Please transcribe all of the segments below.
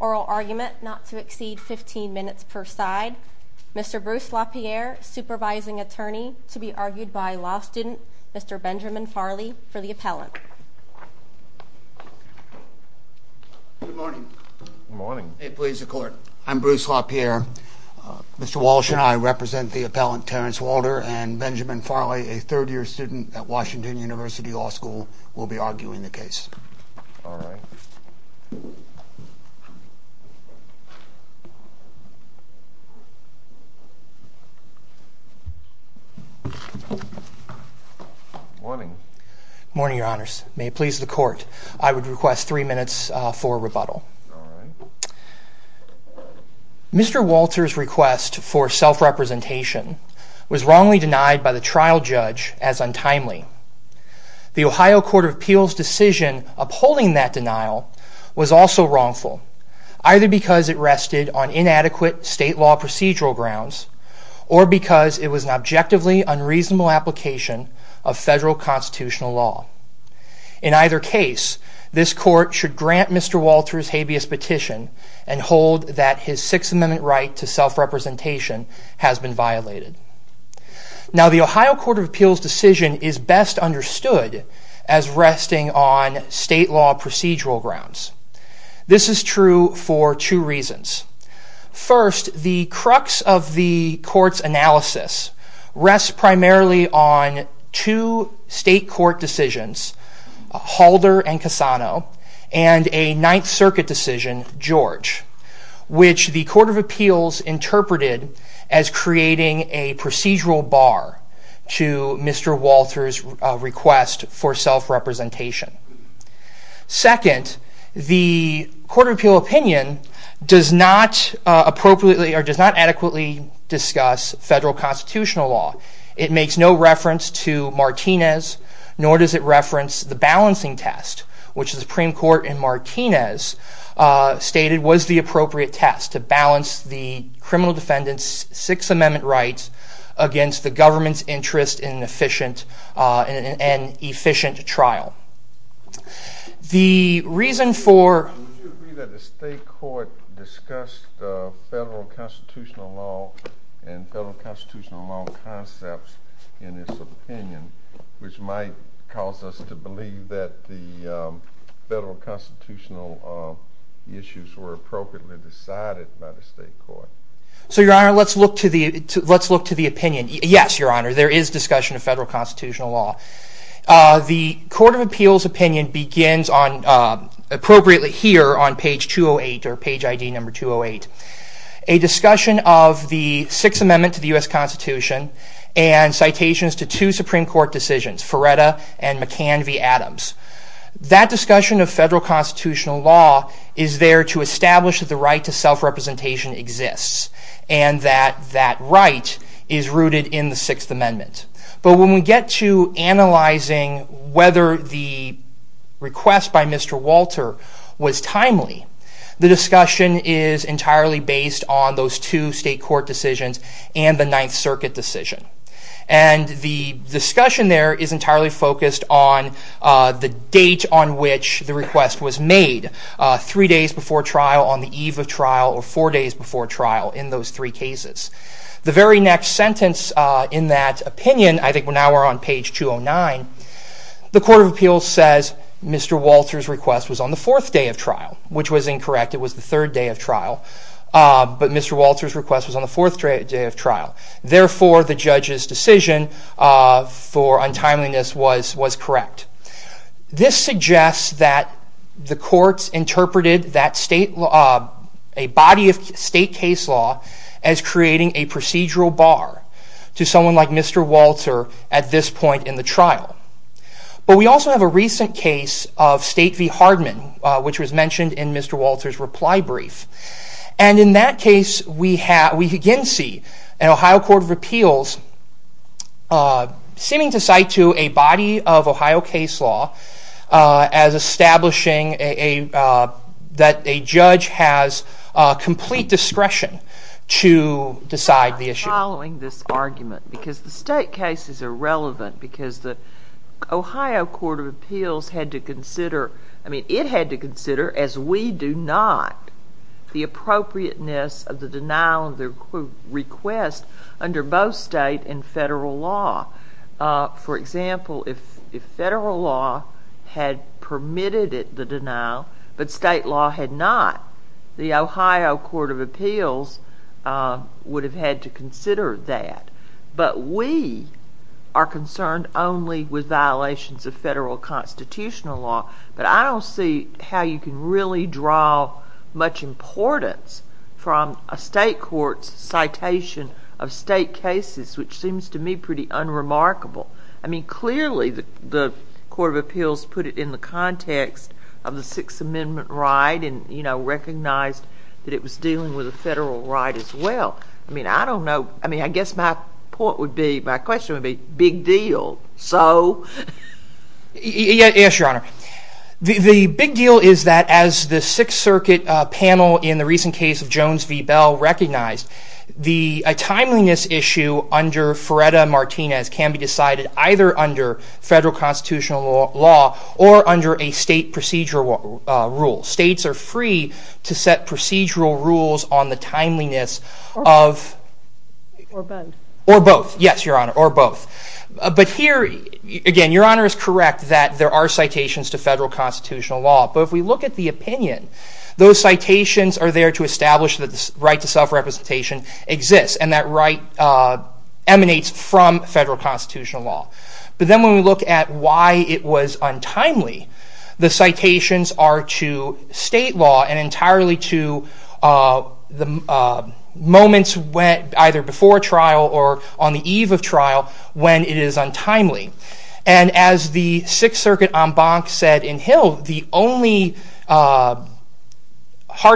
Oral argument not to exceed 15 minutes per side. Mr. Bruce LaPierre, supervising attorney to be argued by law student Mr. Benjamin Farley for the appellant. Good morning. Good morning. Hey please, the court. I'm Bruce LaPierre. Mr. Walsh and I represent the appellant Terrence Walter. And Benjamin Farley, a third year student at Washington University Law School, will be arguing the case. All right. Morning. Morning, your honors. May it please the court, I would request three minutes for rebuttal. All right. Mr. Walter's request for self-representation was wrongly denied by the trial judge as untimely. The Ohio Court of Appeals' decision upholding that denial was also wrongful, either because it rested on inadequate state law procedural grounds, or because it was an objectively unreasonable application of federal constitutional law. In either case, this court should grant Mr. Walter's habeas petition and hold that his Sixth Amendment right to self-representation has been violated. Now the Ohio Court of Appeals' decision is best understood as resting on state law procedural grounds. This is true for two reasons. First, the crux of the court's analysis rests primarily on two state court decisions, Halder and Cassano, and a Ninth Circuit decision, George, which the Court of Appeals interpreted as creating a procedural bar to Mr. Walter's request for self-representation. Second, the Court of Appeals' opinion does not adequately discuss federal constitutional law. It makes no reference to Martinez, nor does it reference the balancing test, which the Supreme Court in Martinez stated was the appropriate test to balance the criminal defendant's Sixth Amendment rights against the government's interest in an efficient trial. The reason for... Would you agree that the state court discussed federal constitutional law and federal constitutional law concepts in its opinion, which might cause us to believe that the federal constitutional issues were appropriately decided by the state court? So, Your Honor, let's look to the opinion. Yes, Your Honor, there is discussion of federal constitutional law. The Court of Appeals' opinion begins appropriately here on page 208 or page ID number 208. A discussion of the Sixth Amendment to the U.S. Constitution and citations to two Supreme Court decisions, Ferretta and McCanvey-Adams. That discussion of federal constitutional law is there to establish that the right to self-representation exists and that that right is rooted in the Sixth Amendment. But when we get to analyzing whether the request by Mr. Walter was timely, the discussion is entirely based on those two state court decisions and the Ninth Circuit decision. And the discussion there is entirely focused on the date on which the request was made, three days before trial, on the eve of trial, or four days before trial in those three cases. The very next sentence in that opinion, I think now we're on page 209, the Court of Appeals says Mr. Walter's request was on the fourth day of trial, which was incorrect. It was the third day of trial. But Mr. Walter's request was on the fourth day of trial. Therefore, the judge's decision for untimeliness was correct. This suggests that the courts interpreted a body of state case law as creating a procedural bar to someone like Mr. Walter at this point in the trial. But we also have a recent case of State v. Hardman, which was mentioned in Mr. Walter's reply brief. And in that case, we again see an Ohio Court of Appeals seeming to cite to a body of Ohio case law as establishing that a judge has complete discretion to decide the issue. I'm not following this argument because the state case is irrelevant because the Ohio Court of Appeals had to consider, I mean, it had to consider, as we do not, the appropriateness of the denial of the request under both state and federal law. For example, if federal law had permitted the denial, but state law had not, the Ohio Court of Appeals would have had to consider that. But we are concerned only with violations of federal constitutional law. But I don't see how you can really draw much importance from a state court's citation of state cases, which seems to me pretty unremarkable. I mean, clearly, the Court of Appeals put it in the context of the Sixth Amendment right and, you know, recognized that it was dealing with a federal right as well. I mean, I don't know. I mean, I guess my point would be, my question would be, big deal. So... Yes, Your Honor. The big deal is that as the Sixth Circuit panel in the recent case of Jones v. Bell recognized, the timeliness issue under Ferreira-Martinez can be decided either under federal constitutional law or under a state procedural rule. States are free to set procedural rules on the timeliness of... Or both. Or both, yes, Your Honor, or both. But here, again, Your Honor is correct that there are citations to federal constitutional law. But if we look at the opinion, those citations are there to establish that the right to self-representation exists and that right emanates from federal constitutional law. But then when we look at why it was untimely, the citations are to state law and entirely to the moments either before trial or on the eve of trial when it is untimely. And as the Sixth Circuit en banc said in Hill, the only hard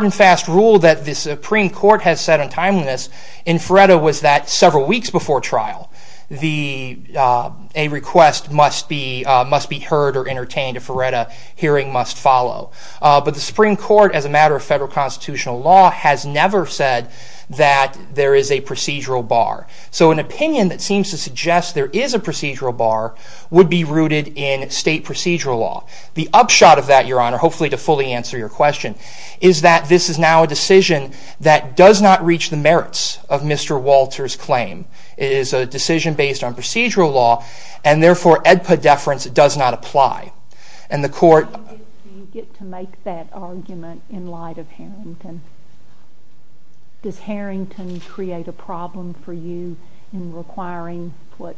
and fast rule that the Supreme Court has set on timeliness in Ferreira was that several weeks before trial. A request must be heard or entertained. A Ferreira hearing must follow. But the Supreme Court, as a matter of federal constitutional law, has never said that there is a procedural bar. So an opinion that seems to suggest there is a procedural bar would be rooted in state procedural law. The upshot of that, Your Honor, hopefully to fully answer your question, is that this is now a decision that does not reach the merits of Mr. Walter's claim. It is a decision based on procedural law, and therefore AEDPA deference does not apply. And the Court— Do you get to make that argument in light of Harrington? Does Harrington create a problem for you in requiring what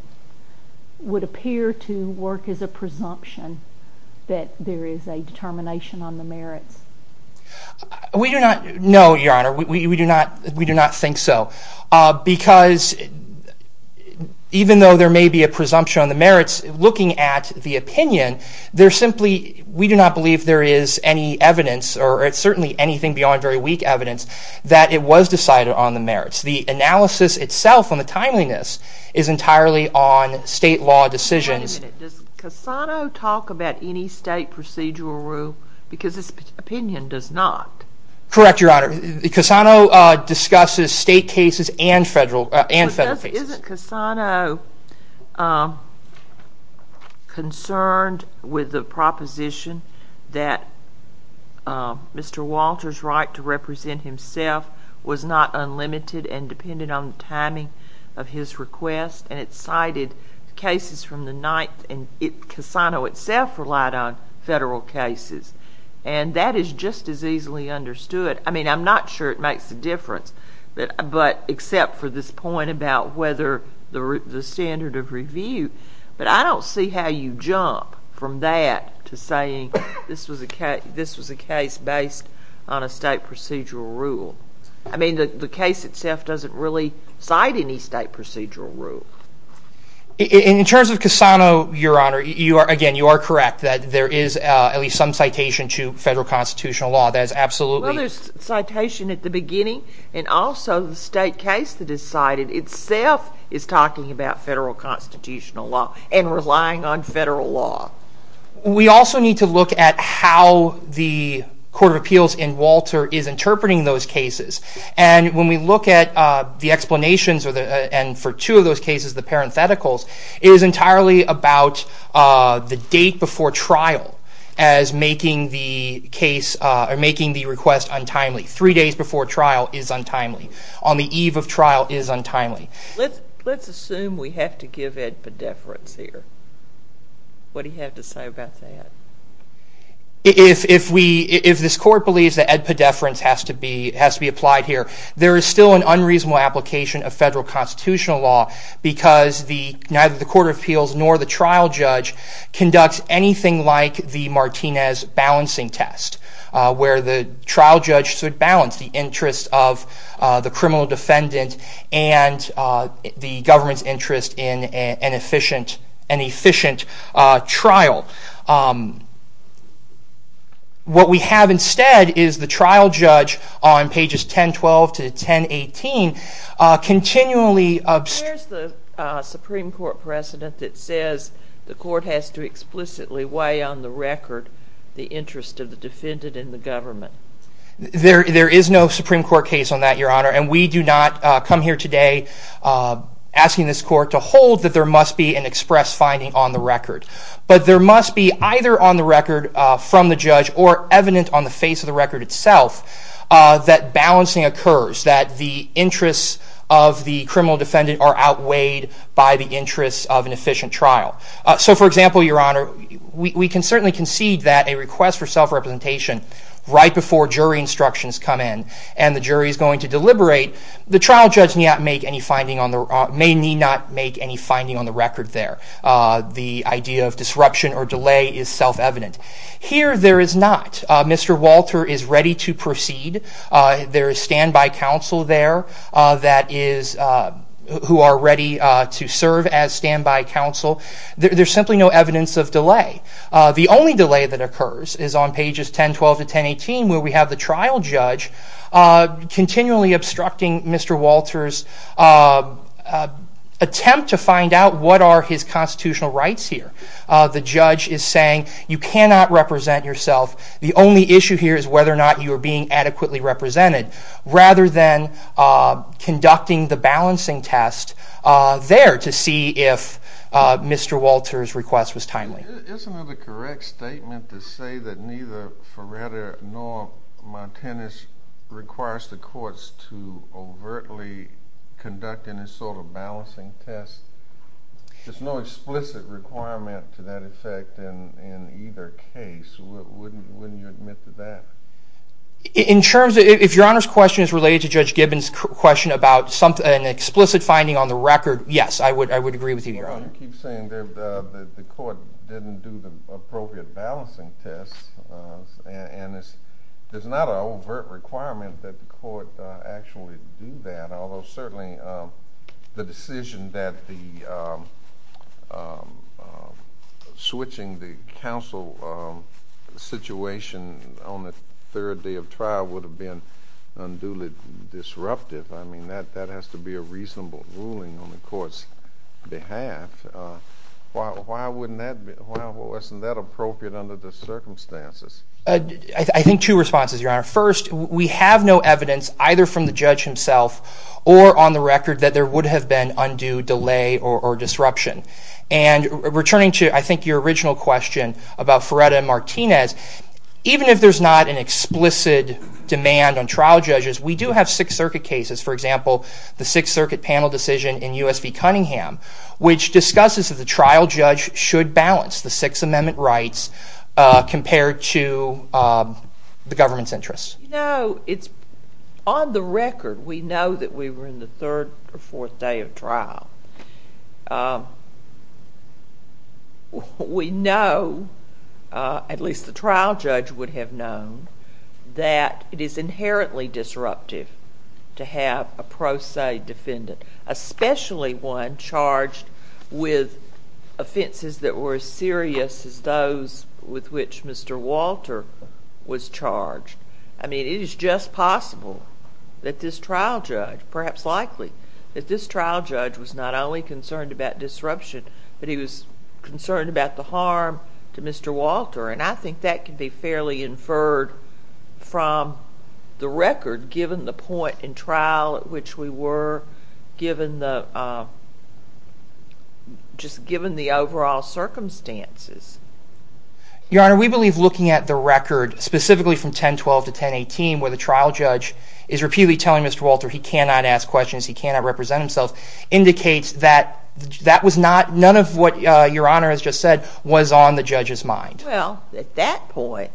would appear to work as a presumption that there is a determination on the merits? We do not—no, Your Honor, we do not think so. Because even though there may be a presumption on the merits, looking at the opinion, there simply—we do not believe there is any evidence, or certainly anything beyond very weak evidence, that it was decided on the merits. The analysis itself on the timeliness is entirely on state law decisions. Wait a minute. Does Cassano talk about any state procedural rule? Because his opinion does not. Correct, Your Honor. Cassano discusses state cases and federal cases. But isn't Cassano concerned with the proposition that Mr. Walter's right to represent himself was not unlimited and dependent on the timing of his request? And it cited cases from the 9th, and Cassano itself relied on federal cases. And that is just as easily understood. I mean, I'm not sure it makes a difference, except for this point about whether the standard of review. But I don't see how you jump from that to saying this was a case based on a state procedural rule. I mean, the case itself doesn't really cite any state procedural rule. In terms of Cassano, Your Honor, again, you are correct that there is at least some citation to federal constitutional law. Well, there's citation at the beginning, and also the state case that is cited itself is talking about federal constitutional law and relying on federal law. We also need to look at how the Court of Appeals in Walter is interpreting those cases. And when we look at the explanations, and for two of those cases, the parentheticals, it is entirely about the date before trial as making the request untimely. Three days before trial is untimely. On the eve of trial is untimely. Let's assume we have to give Ed pedeference here. What do you have to say about that? If this Court believes that Ed pedeference has to be applied here, there is still an unreasonable application of federal constitutional law because neither the Court of Appeals nor the trial judge conducts anything like the Martinez balancing test, where the trial judge should balance the interest of the criminal defendant and the government's interest in an efficient trial. What we have instead is the trial judge on pages 10-12 to 10-18 continually... Where is the Supreme Court precedent that says the Court has to explicitly weigh on the record the interest of the defendant and the government? There is no Supreme Court case on that, Your Honor, and we do not come here today asking this Court to hold that there must be an express finding on the record. But there must be either on the record from the judge or evident on the face of the record itself that balancing occurs, that the interests of the criminal defendant are outweighed by the interests of an efficient trial. So, for example, Your Honor, we can certainly concede that a request for self-representation right before jury instructions come in and the jury is going to deliberate, the trial judge may not make any finding on the record there. The idea of disruption or delay is self-evident. Here, there is not. Mr. Walter is ready to proceed. There is standby counsel there who are ready to serve as standby counsel. There's simply no evidence of delay. The only delay that occurs is on pages 10-12 to 10-18, where we have the trial judge continually obstructing Mr. Walter's attempt to find out what are his constitutional rights here. The judge is saying you cannot represent yourself. The only issue here is whether or not you are being adequately represented rather than conducting the balancing test there to see if Mr. Walter's request was timely. Isn't it a correct statement to say that neither Ferretta nor Martinez requires the courts to overtly conduct any sort of balancing test? There's no explicit requirement to that effect in either case. Wouldn't you admit to that? If Your Honor's question is related to Judge Gibbons' question about an explicit finding on the record, yes, I would agree with you, Your Honor. You keep saying the court didn't do the appropriate balancing test. There's not an overt requirement that the court actually do that, although certainly the decision that switching the counsel situation on the third day of trial would have been unduly disruptive. That has to be a reasonable ruling on the court's behalf. Why wasn't that appropriate under the circumstances? I think two responses, Your Honor. First, we have no evidence either from the judge himself or on the record that there would have been undue delay or disruption. Returning to, I think, your original question about Ferretta and Martinez, even if there's not an explicit demand on trial judges, we do have Sixth Circuit cases. For example, the Sixth Circuit panel decision in U.S. v. Cunningham which discusses if the trial judge should balance the Sixth Amendment rights compared to the government's interests. On the record, we know that we were in the third or fourth day of trial. We know, at least the trial judge would have known, that it is inherently disruptive to have a pro se defendant, especially one charged with offenses that were as serious as those with which Mr. Walter was charged. I mean, it is just possible that this trial judge, perhaps likely, that this trial judge was not only concerned about disruption, but he was concerned about the harm to Mr. Walter, and I think that can be fairly inferred from the record, given the point in trial at which we were, just given the overall circumstances. Your Honor, we believe looking at the record, specifically from 1012 to 1018, where the trial judge is repeatedly telling Mr. Walter he cannot ask questions, he cannot represent himself, indicates that none of what Your Honor has just said was on the judge's mind. Well, at that point,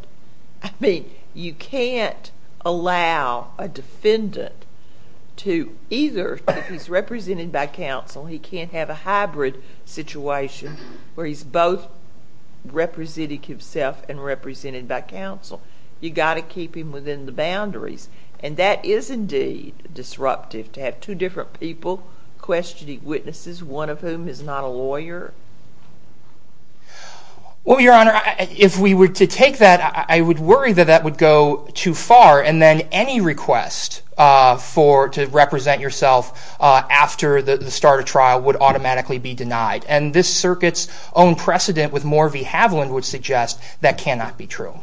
I mean, you can't allow a defendant to either, if he's represented by counsel, he can't have a hybrid situation where he's both representing himself and represented by counsel. You've got to keep him within the boundaries, and that is indeed disruptive to have two different people questioning witnesses, one of whom is not a lawyer. Well, Your Honor, if we were to take that, I would worry that that would go too far, and then any request to represent yourself after the start of trial would automatically be denied, and this circuit's own precedent with Morrie v. Havland would suggest that cannot be true.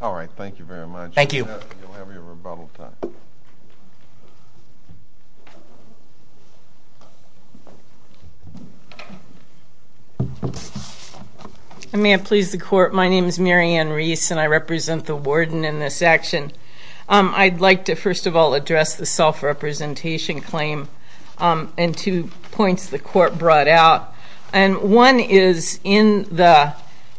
All right, thank you very much. Thank you. You'll have your rebuttal time. I may have pleased the court. My name is Marianne Reese, and I represent the warden in this action. I'd like to, first of all, address the self-representation claim and two points the court brought out, and one is in the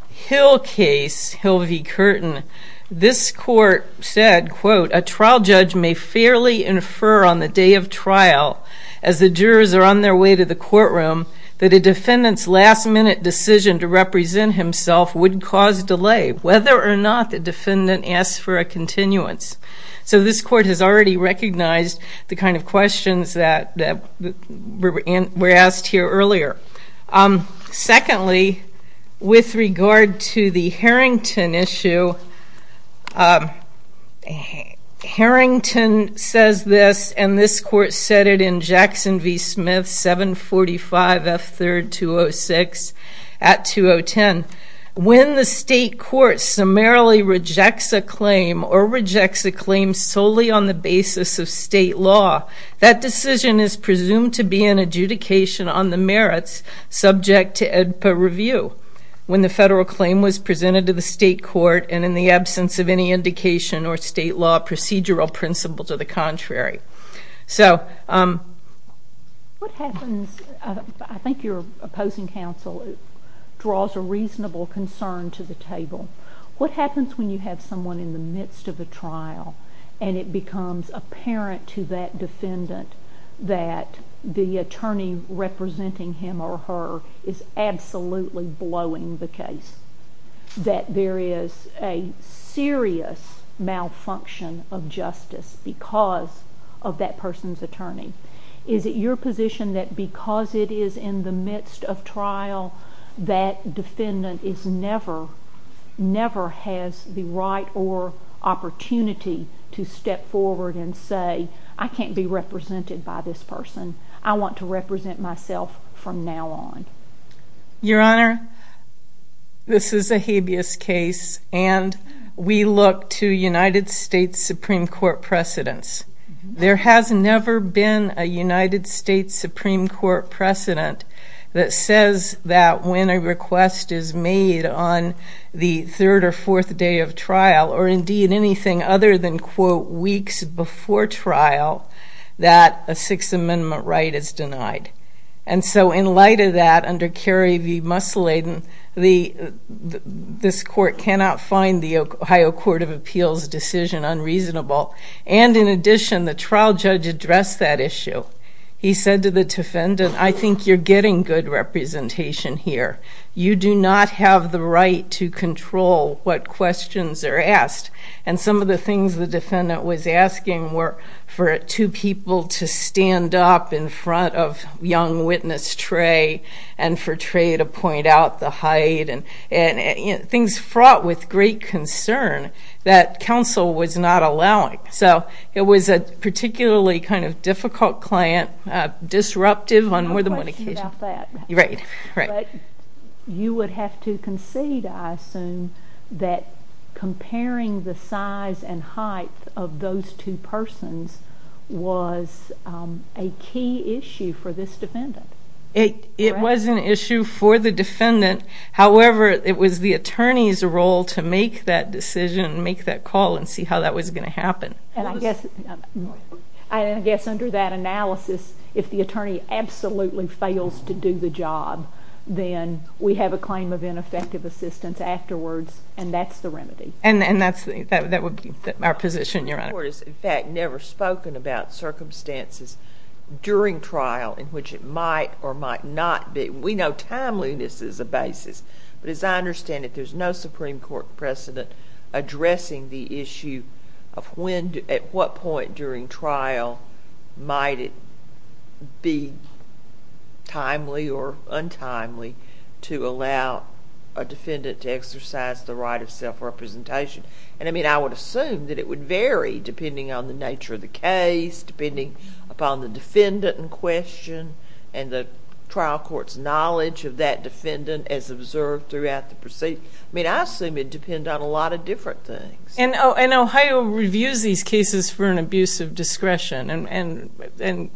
Hill case, Hill v. Curtin, this court said, quote, a trial judge may fairly infer on the day of trial, as the jurors are on their way to the courtroom, that a defendant's last-minute decision to represent himself would cause delay, whether or not the defendant asks for a continuance. So this court has already recognized the kind of questions that were asked here earlier. Secondly, with regard to the Harrington issue, Harrington says this, and this court said it in Jackson v. Smith, 745 F. 3rd, 206, at 2010. When the state court summarily rejects a claim or rejects a claim solely on the basis of state law, that decision is presumed to be an adjudication on the merits subject to AEDPA review when the federal claim was presented to the state court and in the absence of any indication or state law procedural principle to the contrary. So what happens? I think your opposing counsel draws a reasonable concern to the table. What happens when you have someone in the midst of a trial and it becomes apparent to that defendant that the attorney representing him or her is absolutely blowing the case, that there is a serious malfunction of justice because of that person's attorney? Is it your position that because it is in the midst of trial, that defendant never has the right or opportunity to step forward and say, I can't be represented by this person. I want to represent myself from now on. Your Honor, this is a habeas case, and we look to United States Supreme Court precedents. There has never been a United States Supreme Court precedent that says that when a request is made on the third or fourth day of trial or indeed anything other than, quote, weeks before trial, that a Sixth Amendment right is denied. And so in light of that, under Kerry v. Musseladen, this court cannot find the Ohio Court of Appeals decision unreasonable. And in addition, the trial judge addressed that issue. He said to the defendant, I think you're getting good representation here. You do not have the right to control what questions are asked. And some of the things the defendant was asking were for two people to stand up in front of young witness Trey and for Trey to point out the height, and things fraught with great concern that counsel was not allowing. So it was a particularly kind of difficult client, disruptive on more than one occasion. I have a question about that. Right. But you would have to concede, I assume, that comparing the size and height of those two persons was a key issue for this defendant. It was an issue for the defendant. However, it was the attorney's role to make that decision, make that call, and see how that was going to happen. And I guess under that analysis, if the attorney absolutely fails to do the job, then we have a claim of ineffective assistance afterwards, and that's the remedy. And that would be our position, Your Honor. The Supreme Court has, in fact, never spoken about circumstances during trial in which it might or might not be. We know timeliness is a basis. But as I understand it, there's no Supreme Court precedent addressing the issue of at what point during trial might it be timely or untimely to allow a defendant to exercise the right of self-representation. And I would assume that it would vary depending on the nature of the case, depending upon the defendant in question, and the trial court's knowledge of that defendant as observed throughout the proceeding. I mean, I assume it would depend on a lot of different things. And Ohio reviews these cases for an abuse of discretion, and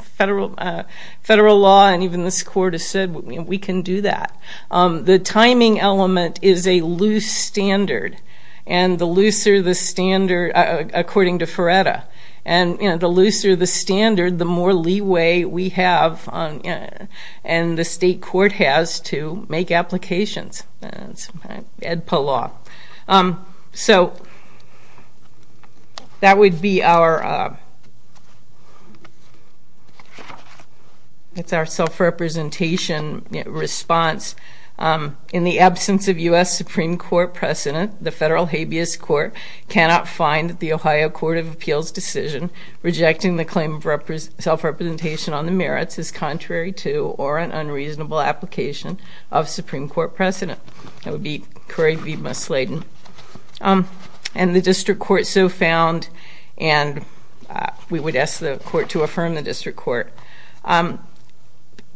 federal law and even this court has said we can do that. The timing element is a loose standard, and the looser the standard, according to Ferretta, and the looser the standard, the more leeway we have and the state court has to make applications. That's Edpa law. So that would be our self-representation response. In the absence of U.S. Supreme Court precedent, the federal habeas court cannot find that the Ohio Court of Appeals decision rejecting the claim of self-representation on the merits is contrary to or an unreasonable application of Supreme Court precedent. That would be Corey V. Musladin. And the district court so found, and we would ask the court to affirm the district court.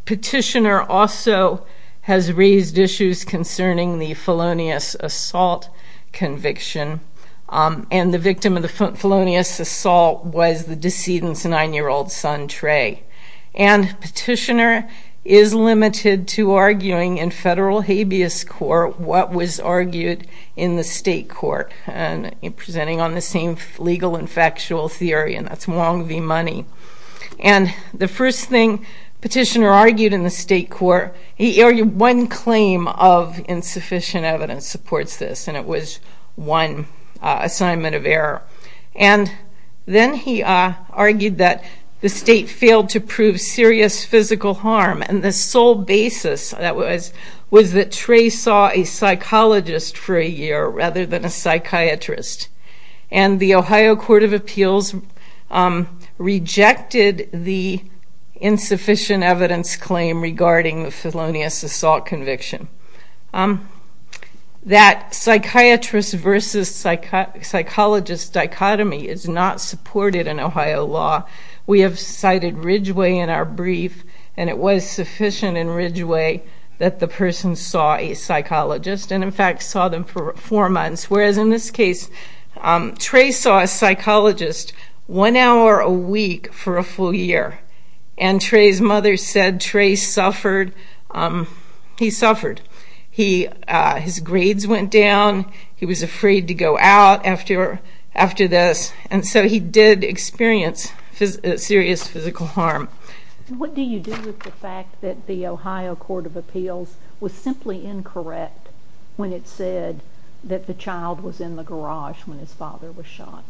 Petitioner also has raised issues concerning the felonious assault conviction, and the victim of the felonious assault was the decedent's nine-year-old son, Trey. And Petitioner is limited to arguing in federal habeas court what was argued in the state court, and presenting on the same legal and factual theory, and that's Wong v. Money. And the first thing Petitioner argued in the state court, he argued one claim of insufficient evidence supports this, and it was one assignment of error. And then he argued that the state failed to prove serious physical harm, and the sole basis was that Trey saw a psychologist for a year rather than a psychiatrist. And the Ohio Court of Appeals rejected the insufficient evidence claim regarding the felonious assault conviction. That psychiatrist versus psychologist dichotomy is not supported in Ohio law. We have cited Ridgeway in our brief, and it was sufficient in Ridgeway that the person saw a psychologist, and in fact saw them for four months. Whereas in this case, Trey saw a psychologist one hour a week for a full year, and Trey's mother said Trey suffered. He suffered. His grades went down. He was afraid to go out after this, and so he did experience serious physical harm. What do you do with the fact that the Ohio Court of Appeals was simply incorrect when it said that the child was in the garage when his father was shot?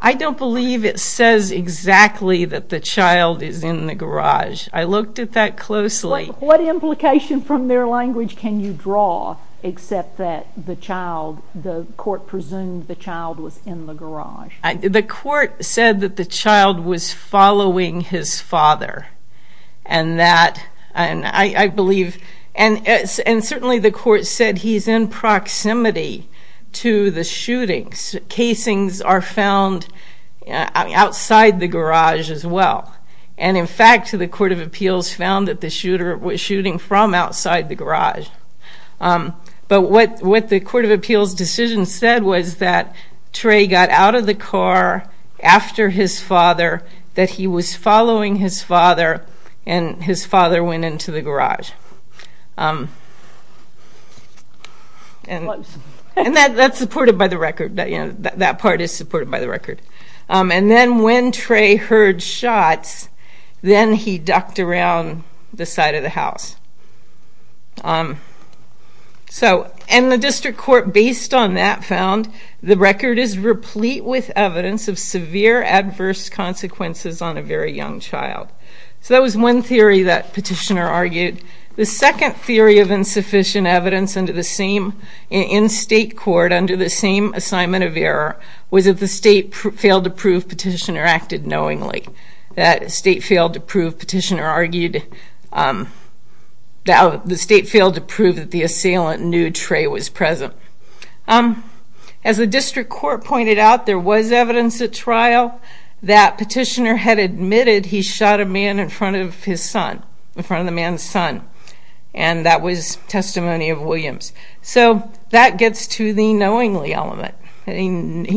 I don't believe it says exactly that the child is in the garage. I looked at that closely. What implication from their language can you draw except that the court presumed the child was in the garage? The court said that the child was following his father, and certainly the court said he's in proximity to the shootings. Casings are found outside the garage as well, and in fact the Court of Appeals found that the shooter was shooting from outside the garage. But what the Court of Appeals decision said was that Trey got out of the car after his father, that he was following his father, and his father went into the garage. And that's supported by the record. That part is supported by the record. And then when Trey heard shots, then he ducked around the side of the house. And the district court, based on that, found the record is replete with evidence of severe adverse consequences on a very young child. So that was one theory that petitioner argued. The second theory of insufficient evidence in state court under the same assignment of error was that the state failed to prove petitioner acted knowingly. The state failed to prove that the assailant knew Trey was present. As the district court pointed out, there was evidence at trial that petitioner had admitted he shot a man in front of his son, in front of the man's son. And that was testimony of Williams. So that gets to the knowingly element. He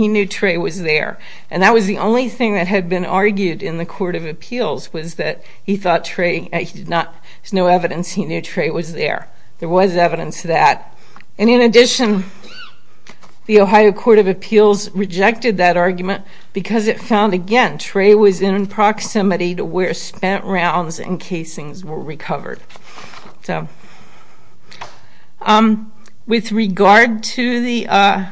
knew Trey was there. And that was the only thing that had been argued in the court of appeals, was that he thought Trey did not, there's no evidence he knew Trey was there. There was evidence of that. And in addition, the Ohio Court of Appeals rejected that argument because it found, again, Trey was in proximity to where spent rounds and casings were recovered. So, with regard to the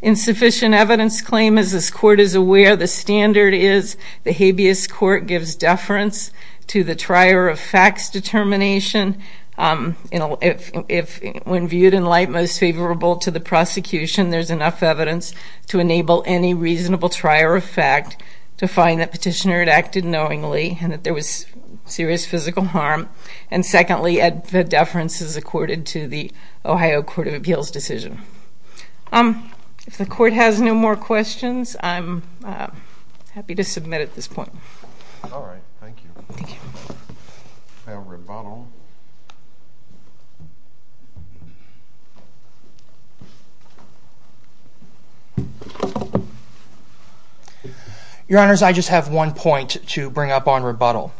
insufficient evidence claim, as this court is aware, the standard is the habeas court gives deference to the trier of facts determination. If when viewed in light most favorable to the prosecution, there's enough evidence to enable any reasonable trier of fact to find that petitioner had acted knowingly and that there was serious physical harm. And secondly, the deference is accorded to the Ohio Court of Appeals decision. If the court has no more questions, I'm happy to submit at this point. All right. Thank you. Now, rebuttal. Your Honors, I just have one point to bring up on rebuttal.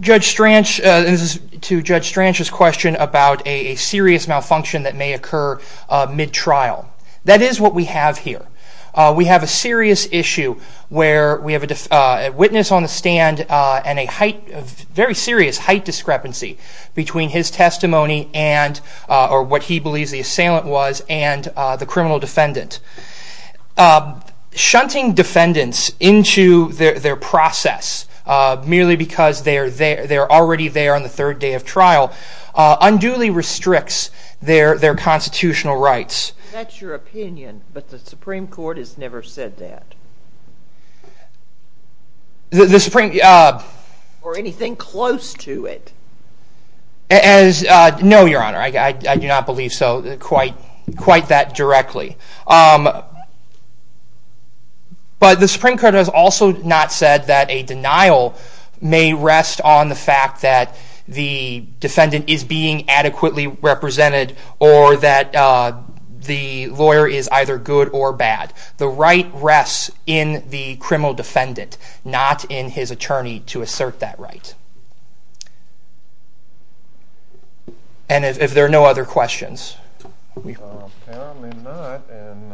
Judge Stranch, this is to Judge Stranch's question about a serious malfunction that may occur mid-trial. That is what we have here. We have a serious issue where we have a witness on the stand and a very serious height discrepancy between his testimony and what he believes the assailant was and the criminal defendant. Shunting defendants into their process merely because they're already there on the third day of trial unduly restricts their constitutional rights. That's your opinion, but the Supreme Court has never said that. Or anything close to it. No, Your Honor. I do not believe so quite that directly. But the Supreme Court has also not said that a denial may rest on the fact that the defendant is being adequately represented or that the lawyer is either good or bad. The right rests in the criminal defendant, not in his attorney to assert that right. And if there are no other questions. There may not, and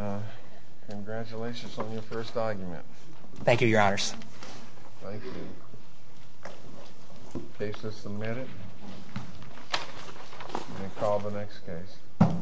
congratulations on your first argument. Thank you, Your Honors. Thank you. Case is submitted. We'll call the next case.